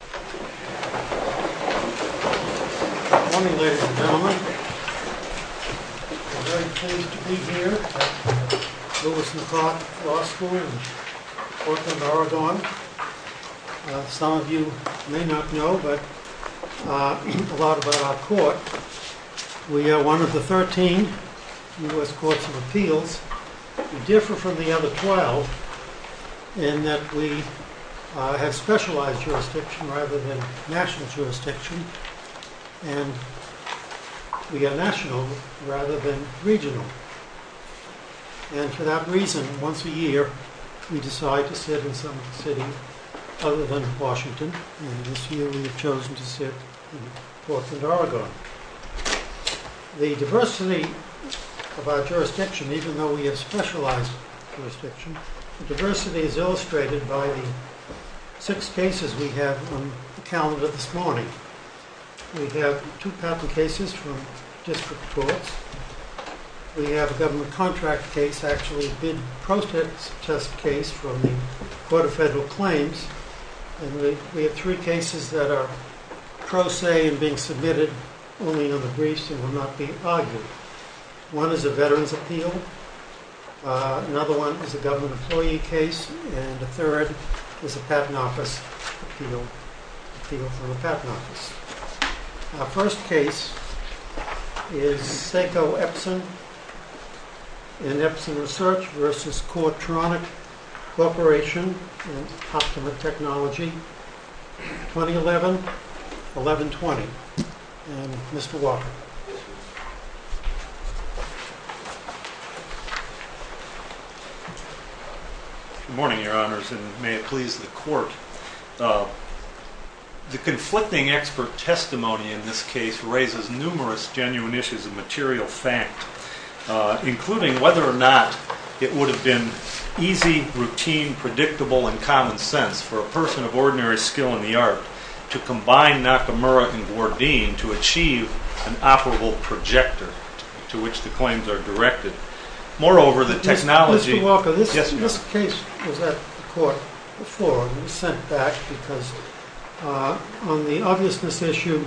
Good morning, ladies and gentlemen. We're very pleased to be here at Lewis and Clark Law School in Portland, Oregon. Some of you may not know, but a lot about our court. We are one of the 13 U.S. courts of appeals. We differ from the other 12 in that we have specialized jurisdiction rather than national jurisdiction, and we are national rather than regional. And for that reason, once a year we decide to sit in some city other than Washington, and this year we have chosen to sit in Portland, Oregon. The diversity of our jurisdiction, even though we have specialized jurisdiction, the diversity is illustrated by the six cases we have on the calendar this morning. We have two patent cases from district courts. We have a government contract case, actually a bid protest test case from the Court of Federal Claims. And we have three cases that are pro se and being submitted only on the briefs and will not be argued. One is a veteran's appeal, another one is a government employee case, and the third is a patent office appeal from a patent office. Our first case is Seko Epson in Epson Research v. Courtronic Corporation in Optimal Technology, 2011-11-20. And Mr. Walker. Good morning, Your Honors, and may it please the Court. The conflicting expert testimony in this case raises numerous genuine issues of material fact, including whether or not it would have been easy, routine, predictable, and common sense for a person of ordinary skill in the art to combine Nakamura and Gourdine to achieve an operable projector to which the claims are directed. Moreover, the technology— Mr. Walker, this case was at the Court before and was sent back because on the obviousness issue,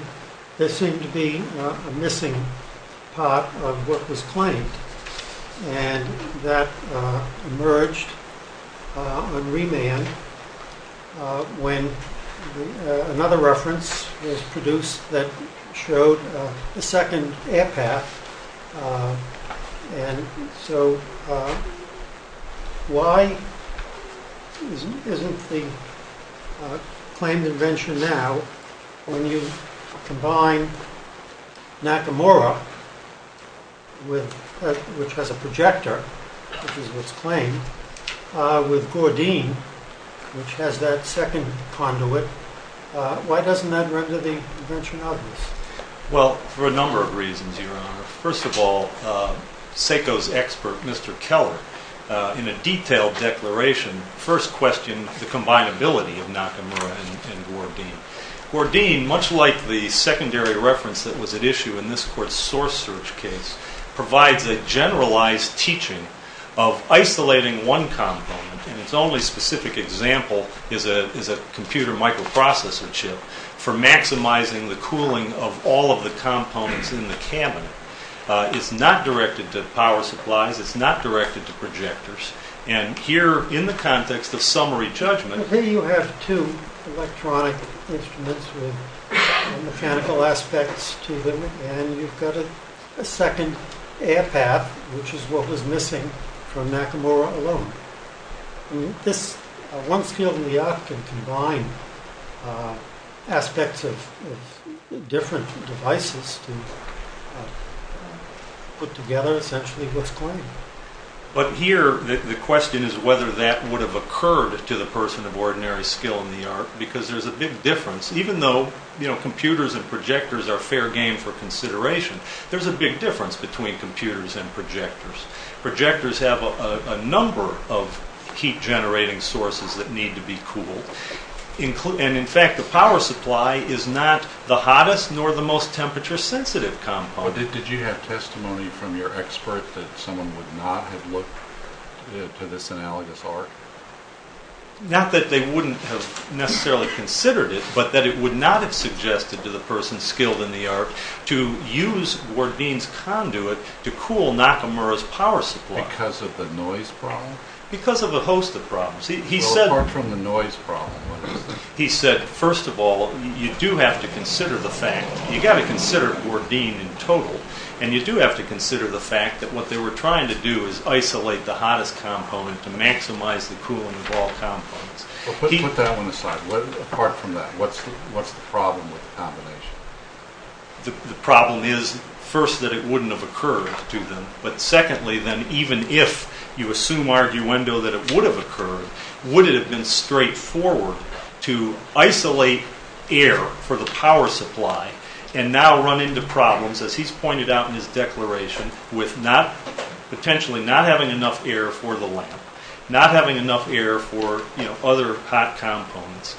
there seemed to be a missing part of what was claimed. And that emerged on remand when another reference was produced that showed a second air path. And so why isn't the claimed invention now, when you combine Nakamura, which has a projector, which is what's claimed, with Gourdine, which has that second conduit, why doesn't that render the invention obvious? Well, for a number of reasons, Your Honor. First of all, Seko's expert, Mr. Keller, in a detailed declaration, first questioned the combinability of Nakamura and Gourdine. Gourdine, much like the secondary reference that was at issue in this Court's source search case, provides a generalized teaching of isolating one component. And its only specific example is a computer microprocessor chip for maximizing the cooling of all of the components in the cabinet. It's not directed to power supplies. It's not directed to projectors. And here, in the context of summary judgment— So here you have two electronic instruments with mechanical aspects to them. And you've got a second air path, which is what was missing from Nakamura alone. This, once gilded in the art, can combine aspects of different devices to put together, essentially, what's claimed. But here, the question is whether that would have occurred to the person of ordinary skill in the art. Because there's a big difference. Even though computers and projectors are fair game for consideration, there's a big difference between computers and projectors. Projectors have a number of heat-generating sources that need to be cooled. And in fact, the power supply is not the hottest nor the most temperature-sensitive compound. Did you have testimony from your expert that someone would not have looked to this analogous art? Not that they wouldn't have necessarily considered it, but that it would not have suggested to the person skilled in the art to use Gordine's conduit to cool Nakamura's power supply. Because of the noise problem? Because of a host of problems. Apart from the noise problem, what else? He said, first of all, you do have to consider the fact, you've got to consider Gordine in total, and you do have to consider the fact that what they were trying to do is isolate the hottest component to maximize the cooling of all compounds. Put that one aside. Apart from that, what's the problem with the combination? The problem is, first, that it wouldn't have occurred to them. But secondly, then, even if you assume arguendo that it would have occurred, would it have been straightforward to isolate air for the power supply and now run into problems, as he's pointed out in his declaration, with potentially not having enough air for the lamp, not having enough air for other hot components,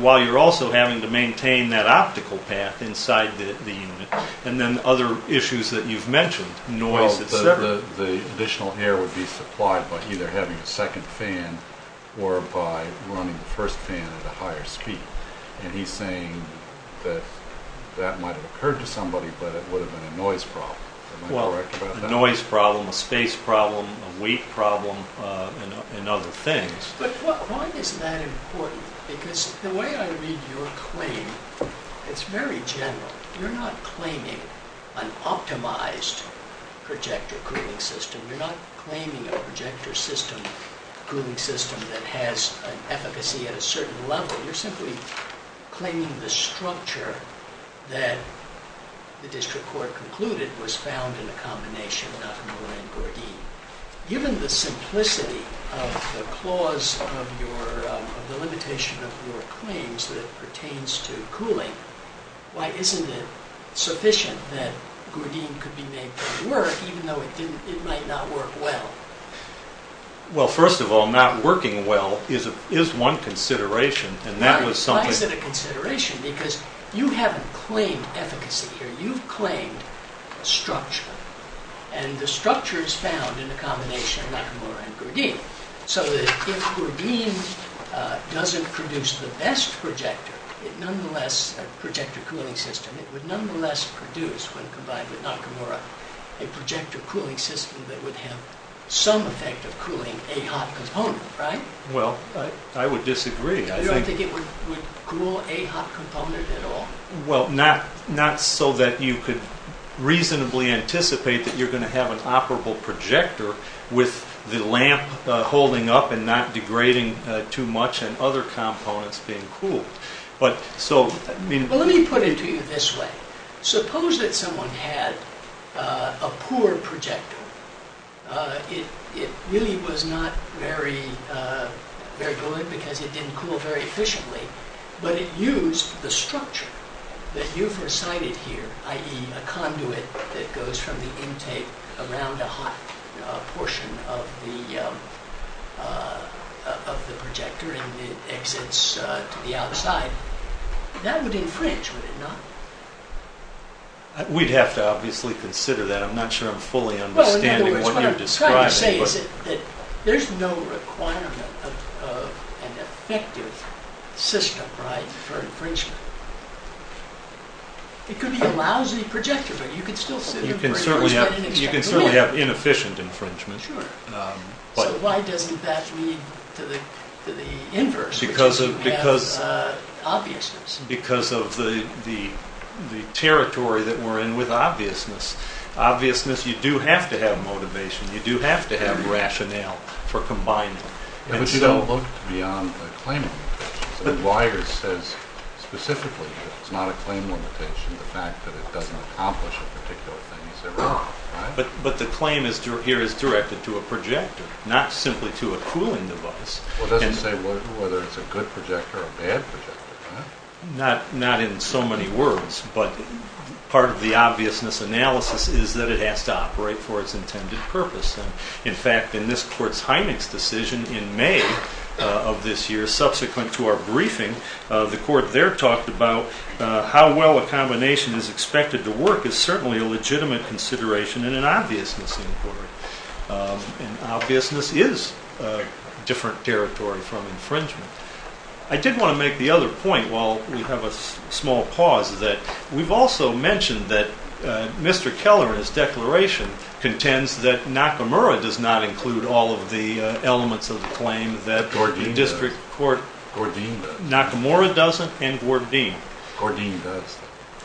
while you're also having to maintain that optical path inside the unit? And then other issues that you've mentioned, noise, et cetera. Well, the additional air would be supplied by either having a second fan or by running the first fan at a higher speed. And he's saying that that might have occurred to somebody, but it would have been a noise problem. Am I correct about that? Well, a noise problem, a space problem, a weight problem, and other things. But why is that important? Because the way I read your claim, it's very general. You're not claiming an optimized projector cooling system. You're not claiming a projector system, cooling system, that has an efficacy at a certain level. You're simply claiming the structure that the district court concluded was found in a combination, Given the simplicity of the clause of the limitation of your claims that pertains to cooling, why isn't it sufficient that Gourdin could be made to work, even though it might not work well? Well, first of all, not working well is one consideration. Why is it a consideration? Because you haven't claimed efficacy here. You've claimed structure. And the structure is found in a combination of Nakamura and Gourdin. So that if Gourdin doesn't produce the best projector, a projector cooling system, it would nonetheless produce, when combined with Nakamura, a projector cooling system that would have some effect of cooling a hot component, right? Well, I would disagree. You don't think it would cool a hot component at all? Well, not so that you could reasonably anticipate that you're going to have an operable projector with the lamp holding up and not degrading too much and other components being cooled. Well, let me put it to you this way. Suppose that someone had a poor projector. It really was not very good because it didn't cool very efficiently. But it used the structure that you've recited here, i.e., a conduit that goes from the intake around a hot portion of the projector and it exits to the outside. That would infringe, would it not? We'd have to obviously consider that. What you're saying is that there's no requirement of an effective system, right, for infringement. It could be a lousy projector, but you could still see the infringement. You can certainly have inefficient infringement. Sure. So why doesn't that lead to the inverse, which is to have obviousness? Because of the territory that we're in with obviousness. Obviousness, you do have to have motivation. You do have to have rationale for combining them. But you don't look beyond the claim limitation. Weyers says specifically that it's not a claim limitation, the fact that it doesn't accomplish a particular thing is wrong, right? But the claim here is directed to a projector, not simply to a cooling device. Well, it doesn't say whether it's a good projector or a bad projector, right? Not in so many words, but part of the obviousness analysis is that it has to operate for its intended purpose. In fact, in this court's Heineck's decision in May of this year, subsequent to our briefing, the court there talked about how well a combination is expected to work is certainly a legitimate consideration and an obviousness inquiry. And obviousness is a different territory from infringement. I did want to make the other point while we have a small pause, that we've also mentioned that Mr. Keller, in his declaration, contends that Nakamura does not include all of the elements of the claim that the district court- Gordine does. Gordine does. Nakamura doesn't and Gordine. Gordine does.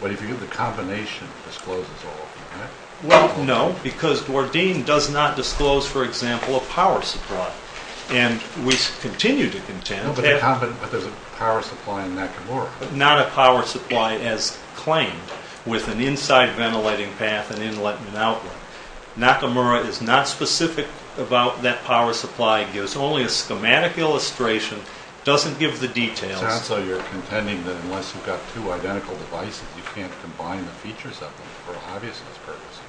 But if you get the combination, it discloses all of them, right? Well, no, because Gordine does not disclose, for example, a power supply. And we continue to contend- But there's a power supply in Nakamura. Not a power supply as claimed with an inside ventilating path and inlet and outlet. Nakamura is not specific about that power supply. It gives only a schematic illustration. It doesn't give the details. So you're contending that unless you've got two identical devices, you can't combine the features of them for an obviousness purpose.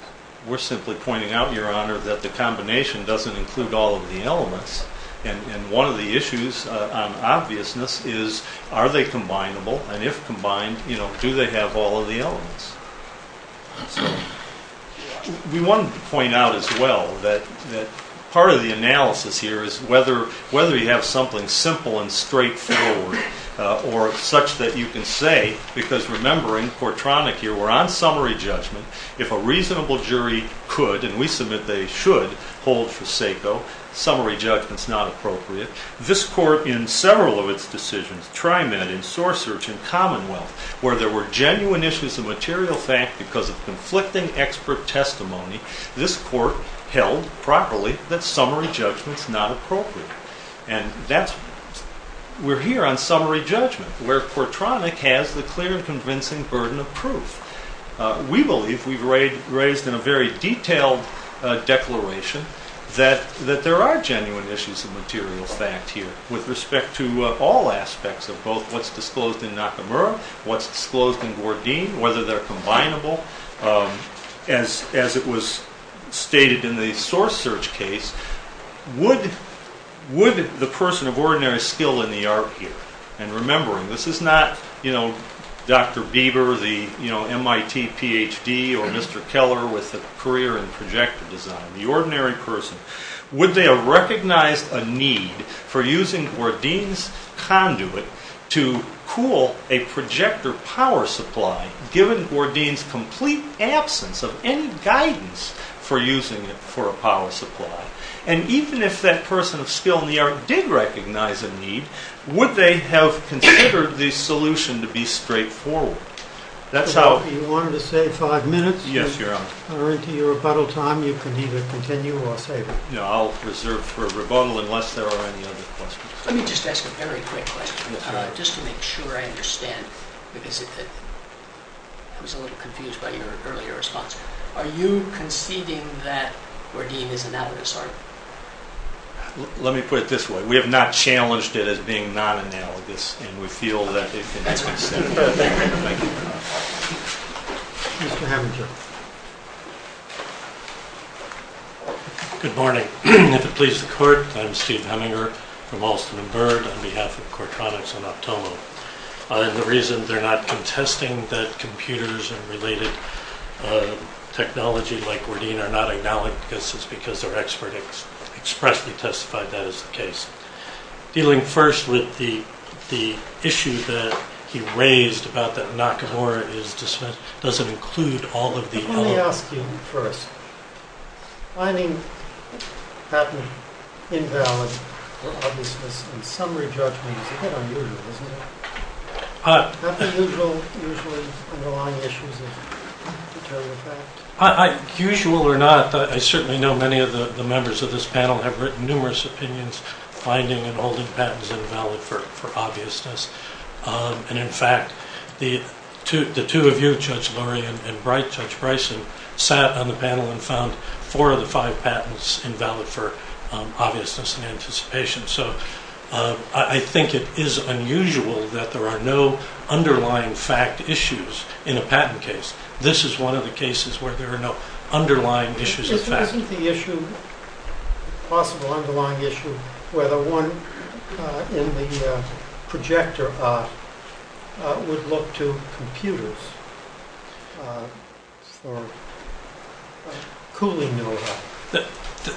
We're simply pointing out, Your Honor, that the combination doesn't include all of the elements. And one of the issues on obviousness is, are they combinable? And if combined, do they have all of the elements? We wanted to point out as well that part of the analysis here is whether you have something simple and straightforward or such that you can say- because remembering Portronic here, we're on summary judgment. If a reasonable jury could, and we submit they should, hold for SACO, summary judgment's not appropriate. This court, in several of its decisions, Trimed, in Source Search, in Commonwealth, where there were genuine issues of material fact because of conflicting expert testimony, this court held properly that summary judgment's not appropriate. And we're here on summary judgment, where Portronic has the clear and convincing burden of proof. We believe, we've raised in a very detailed declaration, that there are genuine issues of material fact here, with respect to all aspects of both what's disclosed in Nakamura, what's disclosed in Gourdine, whether they're combinable. As it was stated in the Source Search case, would the person of ordinary skill in the art here, and remembering this is not Dr. Bieber, the MIT PhD, or Mr. Keller with a career in projector design, the ordinary person, would they have recognized a need for using Gourdine's conduit to cool a projector power supply, given Gourdine's complete absence of any guidance for using it for a power supply? And even if that person of skill in the art did recognize a need, would they have considered the solution to be straightforward? If you wanted to save five minutes, you're into your rebuttal time. You can either continue or save it. I'll reserve for rebuttal unless there are any other questions. Let me just ask a very quick question, just to make sure I understand. I was a little confused by your earlier response. Are you conceding that Gourdine is an avid assortment? Let me put it this way. We have not challenged it as being non-analogous, and we feel that if it is instead of being analogous. Good morning. If it pleases the court, I'm Steve Heminger from Alston & Byrd on behalf of Quartronics and Optoma. The reason they're not contesting that computers and related technology like Gourdine are not analogous is because their expert expressly testified that is the case. Dealing first with the issue that he raised about that Nakamura doesn't include all of the elements. Let me ask you first. Finding patent invalid or obvious in summary judgment is a bit unusual, isn't it? Aren't the usual underlying issues of material fact? Usual or not, I certainly know many of the members of this panel have written numerous opinions finding and holding patents invalid for obviousness. In fact, the two of you, Judge Lurie and Judge Bryson, sat on the panel and found four of the five patents invalid for obviousness and anticipation. I think it is unusual that there are no underlying fact issues in a patent case. This is one of the cases where there are no underlying issues of fact. Isn't the issue, possible underlying issue, whether one in the projector would look to computers for cooling over?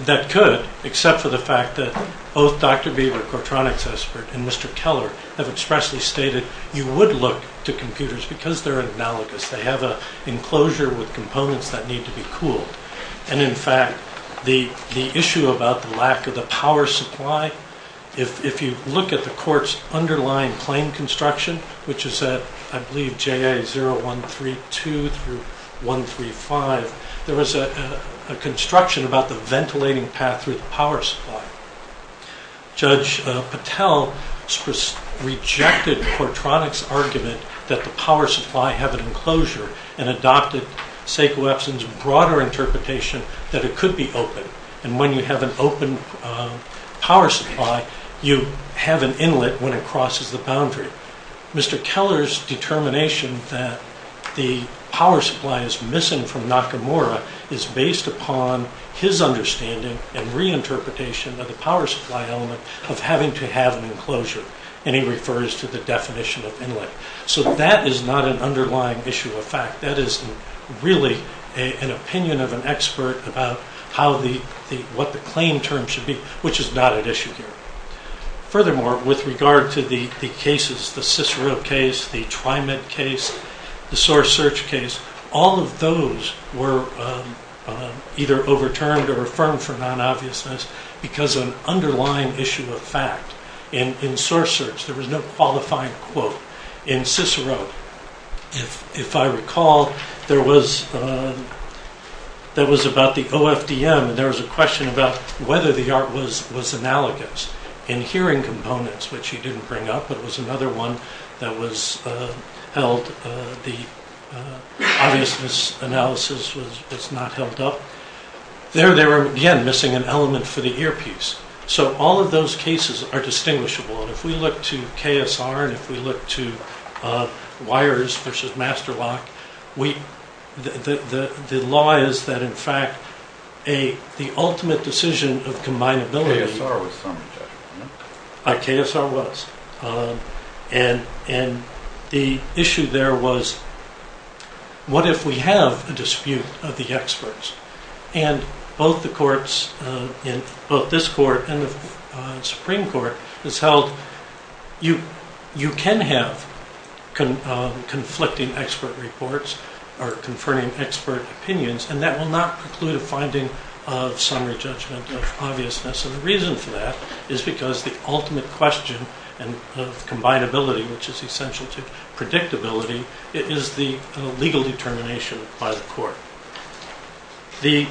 That could, except for the fact that both Dr. Beaver, Quartronics expert, and Mr. Keller have expressly stated you would look to computers because they're analogous. They have an enclosure with components that need to be cooled. In fact, the issue about the lack of the power supply, if you look at the court's underlying claim construction, which is at, I believe, JA 0132 through 135, there was a construction about the ventilating path through the power supply. Judge Patel rejected Quartronics' argument that the power supply have an enclosure and adopted Sekou Epson's broader interpretation that it could be open. And when you have an open power supply, you have an inlet when it crosses the boundary. Mr. Keller's determination that the power supply is missing from Nakamura is based upon his understanding and reinterpretation of the power supply element of having to have an enclosure, and he refers to the definition of inlet. So that is not an underlying issue of fact. That is really an opinion of an expert about what the claim term should be, which is not at issue here. Furthermore, with regard to the cases, the Cicero case, the TriMet case, the source search case, all of those were either overturned or affirmed for non-obviousness because of an underlying issue of fact. In source search, there was no qualifying quote. In Cicero, if I recall, there was about the OFDM, and there was a question about whether the art was analogous. In hearing components, which he didn't bring up, but it was another one that was held, the obviousness analysis was not held up. There they were, again, missing an element for the earpiece. So all of those cases are distinguishable. And if we look to KSR and if we look to wires versus master lock, the law is that, in fact, the ultimate decision of combinability... KSR was. And the issue there was, what if we have a dispute of the experts? And both the courts, both this court and the Supreme Court, has held you can have conflicting expert reports or conferring expert opinions, and that will not preclude a finding of summary judgment of obviousness. And the reason for that is because the ultimate question of combinability, which is essential to predictability, is the legal determination by the court. We've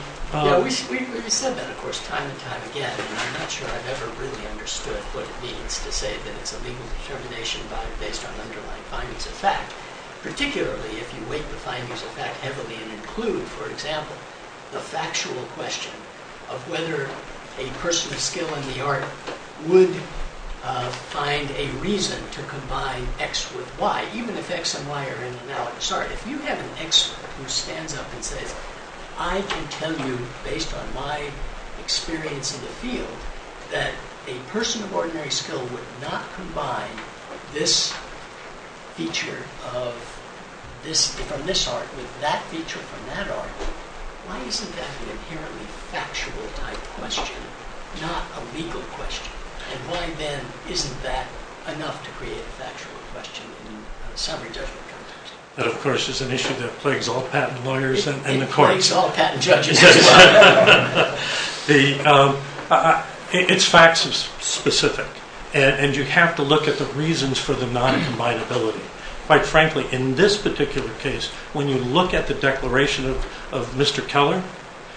said that, of course, time and time again, and I'm not sure I've ever really understood what it means to say that it's a legal determination based on underlying findings of fact, particularly if you weight the findings of fact heavily and include, for example, the factual question of whether a person of skill in the art would find a reason to combine X with Y, even if X and Y are in an analogy. Sorry, if you have an expert who stands up and says, I can tell you, based on my experience in the field, that a person of ordinary skill would not combine this feature from this art with that feature from that art, why isn't that an inherently factual-type question, not a legal question? And why, then, isn't that enough to create a factual question in a summary judgment context? That, of course, is an issue that plagues all patent lawyers and the courts. It plagues all patent judges as well. It's fact-specific, and you have to look at the reasons for the non-combinability. Quite frankly, in this particular case, when you look at the declaration of Mr. Keller,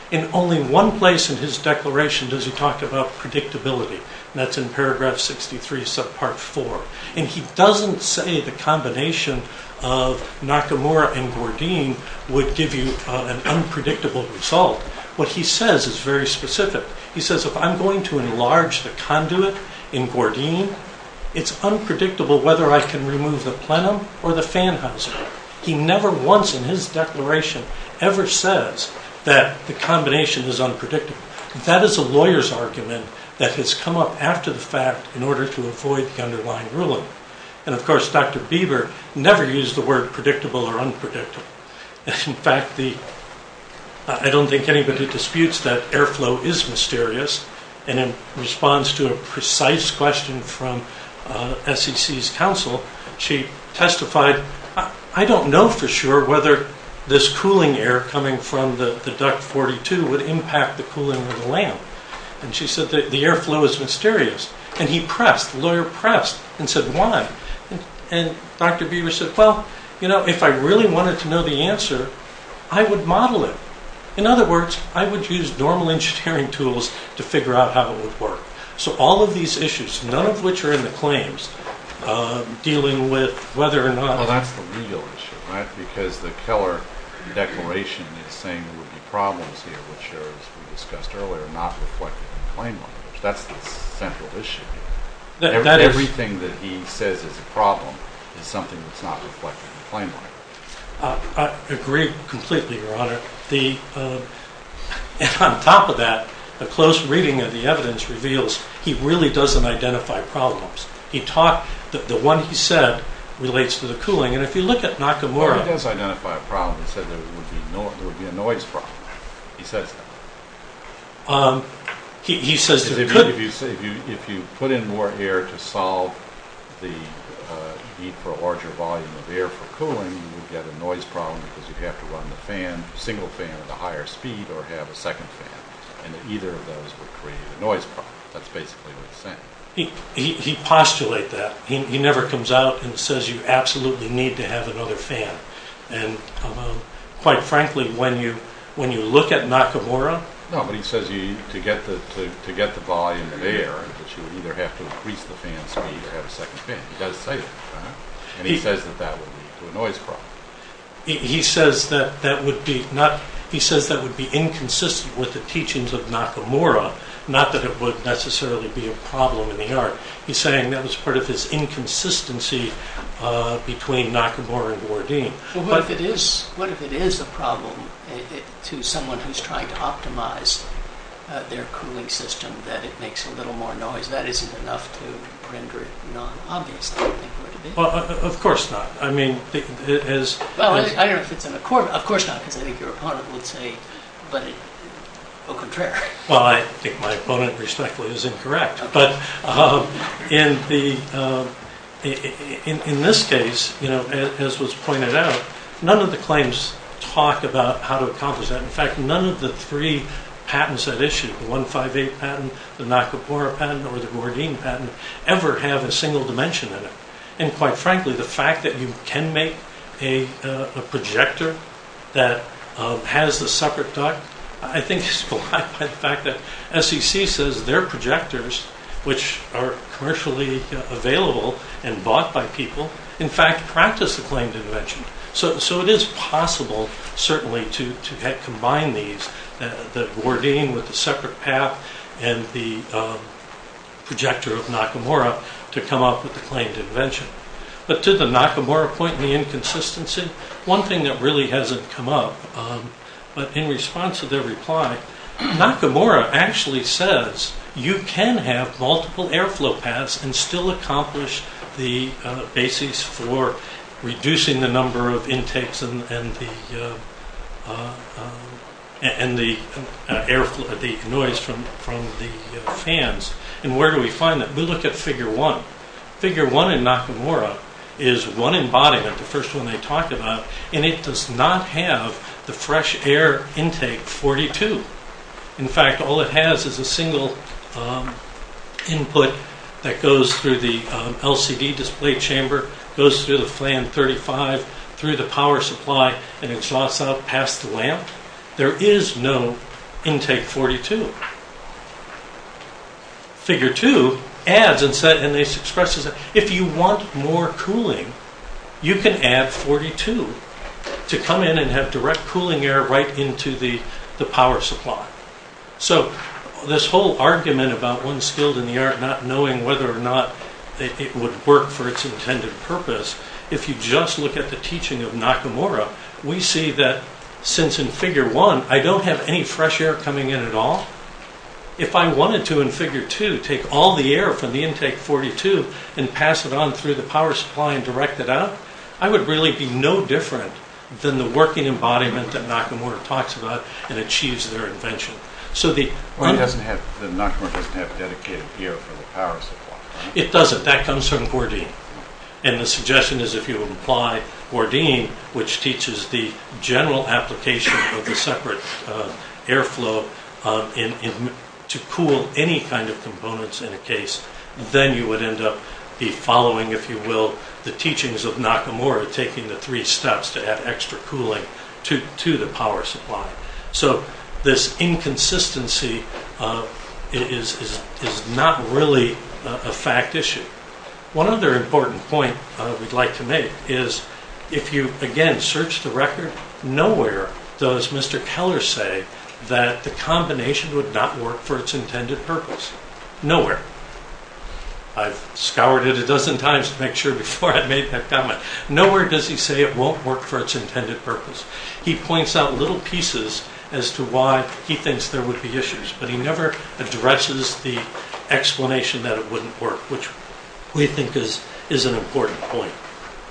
in only one place in his declaration does he talk about predictability, and that's in paragraph 63, subpart 4. And he doesn't say the combination of Nakamura and Gordine would give you an unpredictable result. What he says is very specific. He says, if I'm going to enlarge the conduit in Gordine, it's unpredictable whether I can remove the plenum or the fan housing. He never once in his declaration ever says that the combination is unpredictable. That is a lawyer's argument that has come up after the fact in order to avoid the underlying ruling. And, of course, Dr. Bieber never used the word predictable or unpredictable. In fact, I don't think anybody disputes that airflow is mysterious, and in response to a precise question from SEC's counsel, she testified, I don't know for sure whether this cooling air coming from the duct 42 would impact the cooling of the lamp. And she said the airflow is mysterious. And he pressed, the lawyer pressed, and said, why? And Dr. Bieber said, well, you know, if I really wanted to know the answer, I would model it. In other words, I would use normal engineering tools to figure out how it would work. So all of these issues, none of which are in the claims, dealing with whether or not ‑‑ Well, that's the legal issue, right, because the Keller declaration is saying there would be problems here, which are, as we discussed earlier, not reflected in the claim law. That's the central issue. Everything that he says is a problem is something that's not reflected in the claim law. I agree completely, Your Honor. And on top of that, a close reading of the evidence reveals he really doesn't identify problems. The one he said relates to the cooling. And if you look at Nakamura ‑‑ He does identify a problem. He said there would be a noise problem. He says that. He says there could ‑‑ If you put in more air to solve the need for a larger volume of air for cooling, you'd get a noise problem because you'd have to run the single fan at a higher speed or have a second fan. And either of those would create a noise problem. That's basically what he's saying. He postulates that. He never comes out and says you absolutely need to have another fan. And quite frankly, when you look at Nakamura ‑‑ No, but he says to get the volume of air, you either have to increase the fan speed or have a second fan. He does say that, Your Honor. And he says that that would lead to a noise problem. He says that would be inconsistent with the teachings of Nakamura, not that it would necessarily be a problem in the art. He's saying that was part of his inconsistency between Nakamura and Gordine. Well, what if it is a problem to someone who's trying to optimize their cooling system, that it makes a little more noise? Because that isn't enough to render it nonobvious, I think, would it be? Of course not. I mean, as ‑‑ Well, I don't know if it's in accordance. Of course not, because I think your opponent would say, but au contraire. Well, I think my opponent, respectfully, is incorrect. But in this case, as was pointed out, none of the claims talk about how to accomplish that. In fact, none of the three patents that issue, the 158 patent, the Nakamura patent or the Gordine patent, ever have a single dimension in it. And quite frankly, the fact that you can make a projector that has the separate duct, I think is belied by the fact that SEC says their projectors, which are commercially available and bought by people, in fact, practice the claimed invention. So it is possible, certainly, to combine these, the Gordine with the separate path and the projector of Nakamura to come up with the claimed invention. But to the Nakamura point and the inconsistency, one thing that really hasn't come up, but in response to their reply, Nakamura actually says you can have multiple airflow paths and still accomplish the basis for reducing the number of intakes and the noise from the fans. And where do we find that? We look at Figure 1. Figure 1 in Nakamura is one embodiment, the first one they talk about, and it does not have the fresh air intake 42. In fact, all it has is a single input that goes through the LCD display chamber, goes through the fan 35, through the power supply, and exhausts out past the lamp. There is no intake 42. Figure 2 adds and expresses that if you want more cooling, you can add 42 to come in and have direct cooling air right into the power supply. So this whole argument about one skilled in the art not knowing whether or not it would work for its intended purpose, if you just look at the teaching of Nakamura, we see that since in Figure 1 I don't have any fresh air coming in at all, if I wanted to in Figure 2 take all the air from the intake 42 and pass it on through the power supply and direct it out, I would really be no different than the working embodiment that Nakamura talks about and achieves their invention. It doesn't have, Nakamura doesn't have dedicated air for the power supply. It doesn't. That comes from Gordine. And the suggestion is if you apply Gordine, which teaches the general application of the separate airflow to cool any kind of components in a case, then you would end up following, if you will, the teachings of Nakamura, taking the three steps to add extra cooling to the power supply. So this inconsistency is not really a fact issue. One other important point we'd like to make is if you again search the record, nowhere does Mr. Keller say that the combination would not work for its intended purpose. Nowhere. I've scoured it a dozen times to make sure before I made that comment. Nowhere does he say it won't work for its intended purpose. He points out little pieces as to why he thinks there would be issues, but he never addresses the explanation that it wouldn't work, which we think is an important point.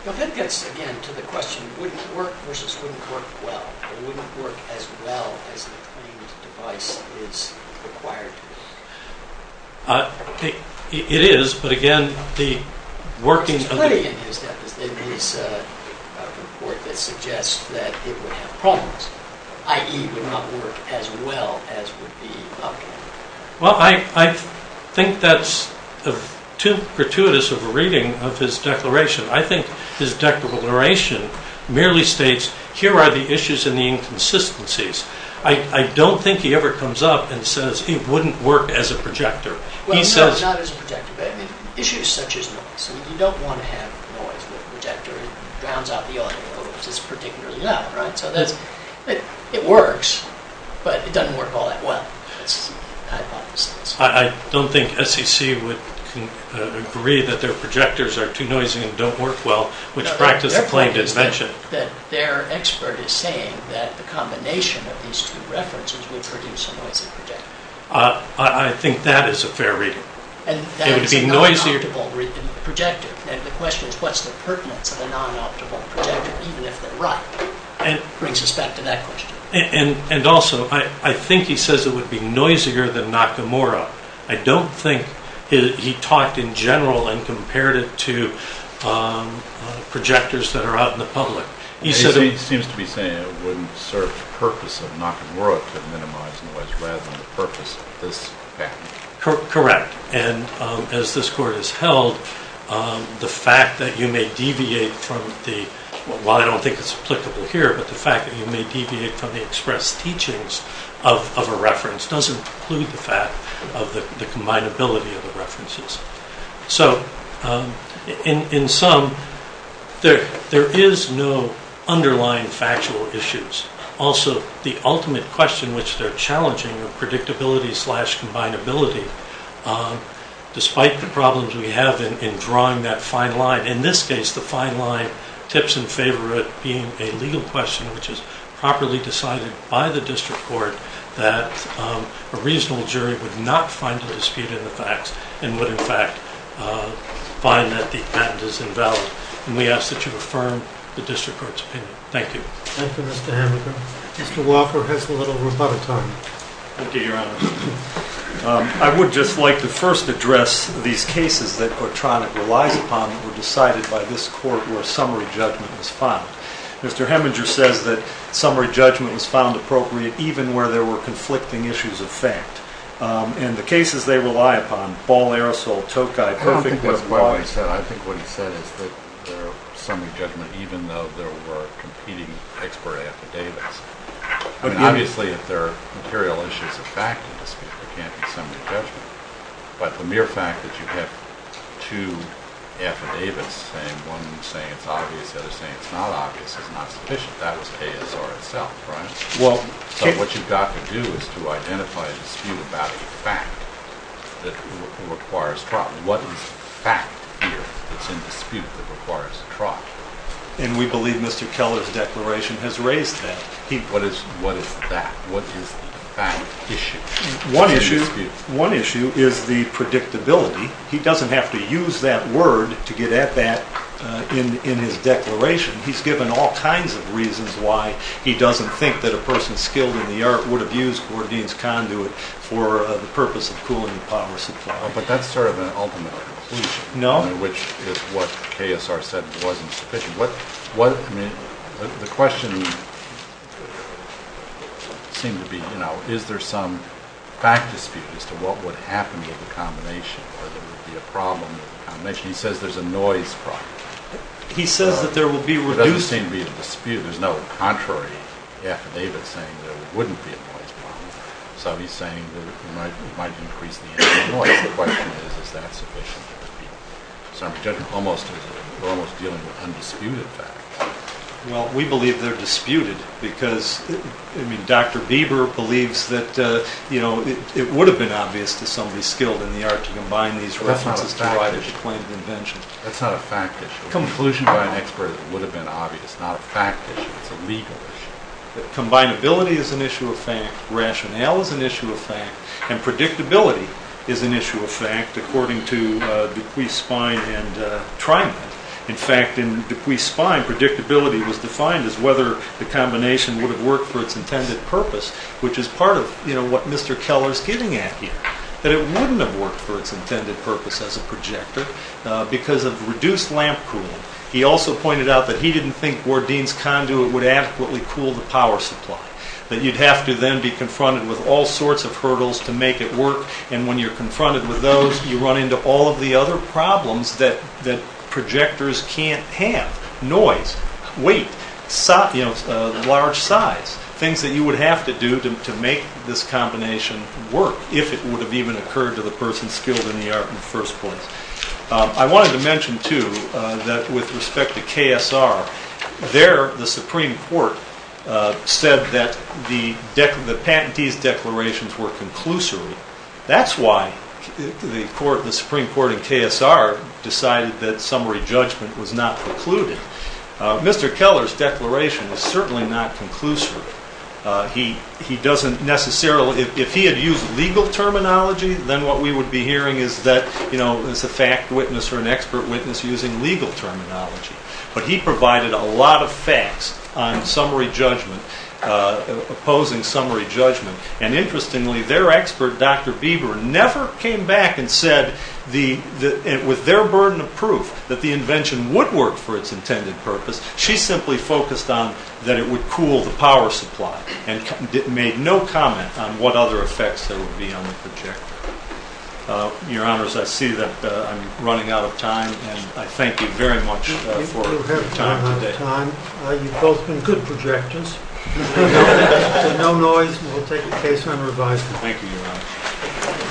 Now that gets, again, to the question wouldn't work versus wouldn't work well. It wouldn't work as well as the claimed device is required to work. It is, but again, the working of the... There's plenty in his report that suggests that it would have problems, i.e. would not work as well as would be optimal. Well, I think that's too gratuitous of a reading of his declaration. I think his declaration merely states here are the issues and the inconsistencies. I don't think he ever comes up and says it wouldn't work as a projector. Well, no, not as a projector, but issues such as noise. You don't want to have noise with a projector. It drowns out the audio, which is particularly loud, right? So it works, but it doesn't work all that well. That's the hypothesis. I don't think SEC would agree that their projectors are too noisy and don't work well, which practice the claimed invention. Their expert is saying that the combination of these two references would produce a noisy projector. I think that is a fair reading. It would be noisier... The question is what's the pertinence of a non-optimal projector, even if they're right. It brings us back to that question. Also, I think he says it would be noisier than Nakamura. I don't think he talked in general and compared it to projectors that are out in the public. He seems to be saying it wouldn't serve the purpose of Nakamura to minimize noise, rather than the purpose of this patent. Correct. As this court has held, the fact that you may deviate from the... Well, I don't think it's applicable here, but the fact that you may deviate from the expressed teachings of a reference doesn't preclude the fact of the combinability of the references. So, in sum, there is no underlying factual issues. Also, the ultimate question, which they're challenging, of predictability slash combinability, despite the problems we have in drawing that fine line, in this case, the fine line tips in favor of it being a legal question which is properly decided by the district court that a reasonable jury would not find a dispute in the facts and would, in fact, find that the patent is invalid. We ask that you affirm the district court's opinion. Thank you. Thank you, Mr. Heminger. Mr. Wofford has a little bit of time. Thank you, Your Honor. I would just like to first address these cases that Cortranek relies upon that were decided by this court where a summary judgment was found. Mr. Heminger says that summary judgment was found appropriate even where there were conflicting issues of fact. And the cases they rely upon, Ball, Aerosol, Tokai, Perfect... I don't think that's what he said. I think what he said is that there are summary judgments even though there were competing expert affidavits. Obviously, if there are material issues of fact in the dispute, there can't be summary judgment. But the mere fact that you have two affidavits, one saying it's obvious, the other saying it's not obvious, is not sufficient. That was ASR itself, right? So what you've got to do is to identify a dispute about a fact that requires trial. But what is fact here that's in dispute that requires trial? And we believe Mr. Keller's declaration has raised that. What is that? What is the fact issue? One issue is the predictability. He doesn't have to use that word to get at that in his declaration. He's given all kinds of reasons why he doesn't think that a person skilled in the art would have used Gordine's conduit for the purpose of cooling the power supply. But that's sort of an ultimate conclusion. No. Which is what ASR said wasn't sufficient. I mean, the question seemed to be, you know, is there some fact dispute as to what would happen with the combination or there would be a problem with the combination. He says there's a noise problem. He says that there will be reduced. There doesn't seem to be a dispute. There's no contrary affidavit saying there wouldn't be a noise problem. So he's saying that it might increase the ambient noise. The question is, is that sufficient? So I'm presuming we're almost dealing with undisputed facts. Well, we believe they're disputed because, I mean, Dr. Bieber believes that, you know, it would have been obvious to somebody skilled in the art to combine these references to write a declared invention. That's not a fact issue. It's a conclusion by an expert that would have been obvious. It's not a fact issue. It's a legal issue. Combinability is an issue of fact. Rationale is an issue of fact. And predictability is an issue of fact, according to Dupuis, Spine, and Treiman. In fact, in Dupuis, Spine, predictability was defined as whether the combination would have worked for its intended purpose, which is part of, you know, what Mr. Keller's getting at here, that it wouldn't have worked for its intended purpose as a projector because of reduced lamp cooling. He also pointed out that he didn't think Bourdin's conduit would adequately cool the power supply, that you'd have to then be confronted with all sorts of hurdles to make it work, and when you're confronted with those, you run into all of the other problems that projectors can't have, noise, weight, you know, large size, things that you would have to do to make this combination work, if it would have even occurred to the person skilled in the art in the first place. I wanted to mention, too, that with respect to KSR, there the Supreme Court said that the patentee's declarations were conclusory. That's why the Supreme Court in KSR decided that summary judgment was not precluded. Mr. Keller's declaration is certainly not conclusive. He doesn't necessarily, if he had used legal terminology, then what we would be hearing is that, you know, it's a fact witness or an expert witness using legal terminology. But he provided a lot of facts on summary judgment, opposing summary judgment. And interestingly, their expert, Dr. Bieber, never came back and said with their burden of proof that the invention would work for its intended purpose. She simply focused on that it would cool the power supply and made no comment on what other effects there would be on the projector. Your Honors, I see that I'm running out of time, and I thank you very much for your time today. You have run out of time. You've both been good projectors. No noise, and we'll take the case on review. Thank you, Your Honors.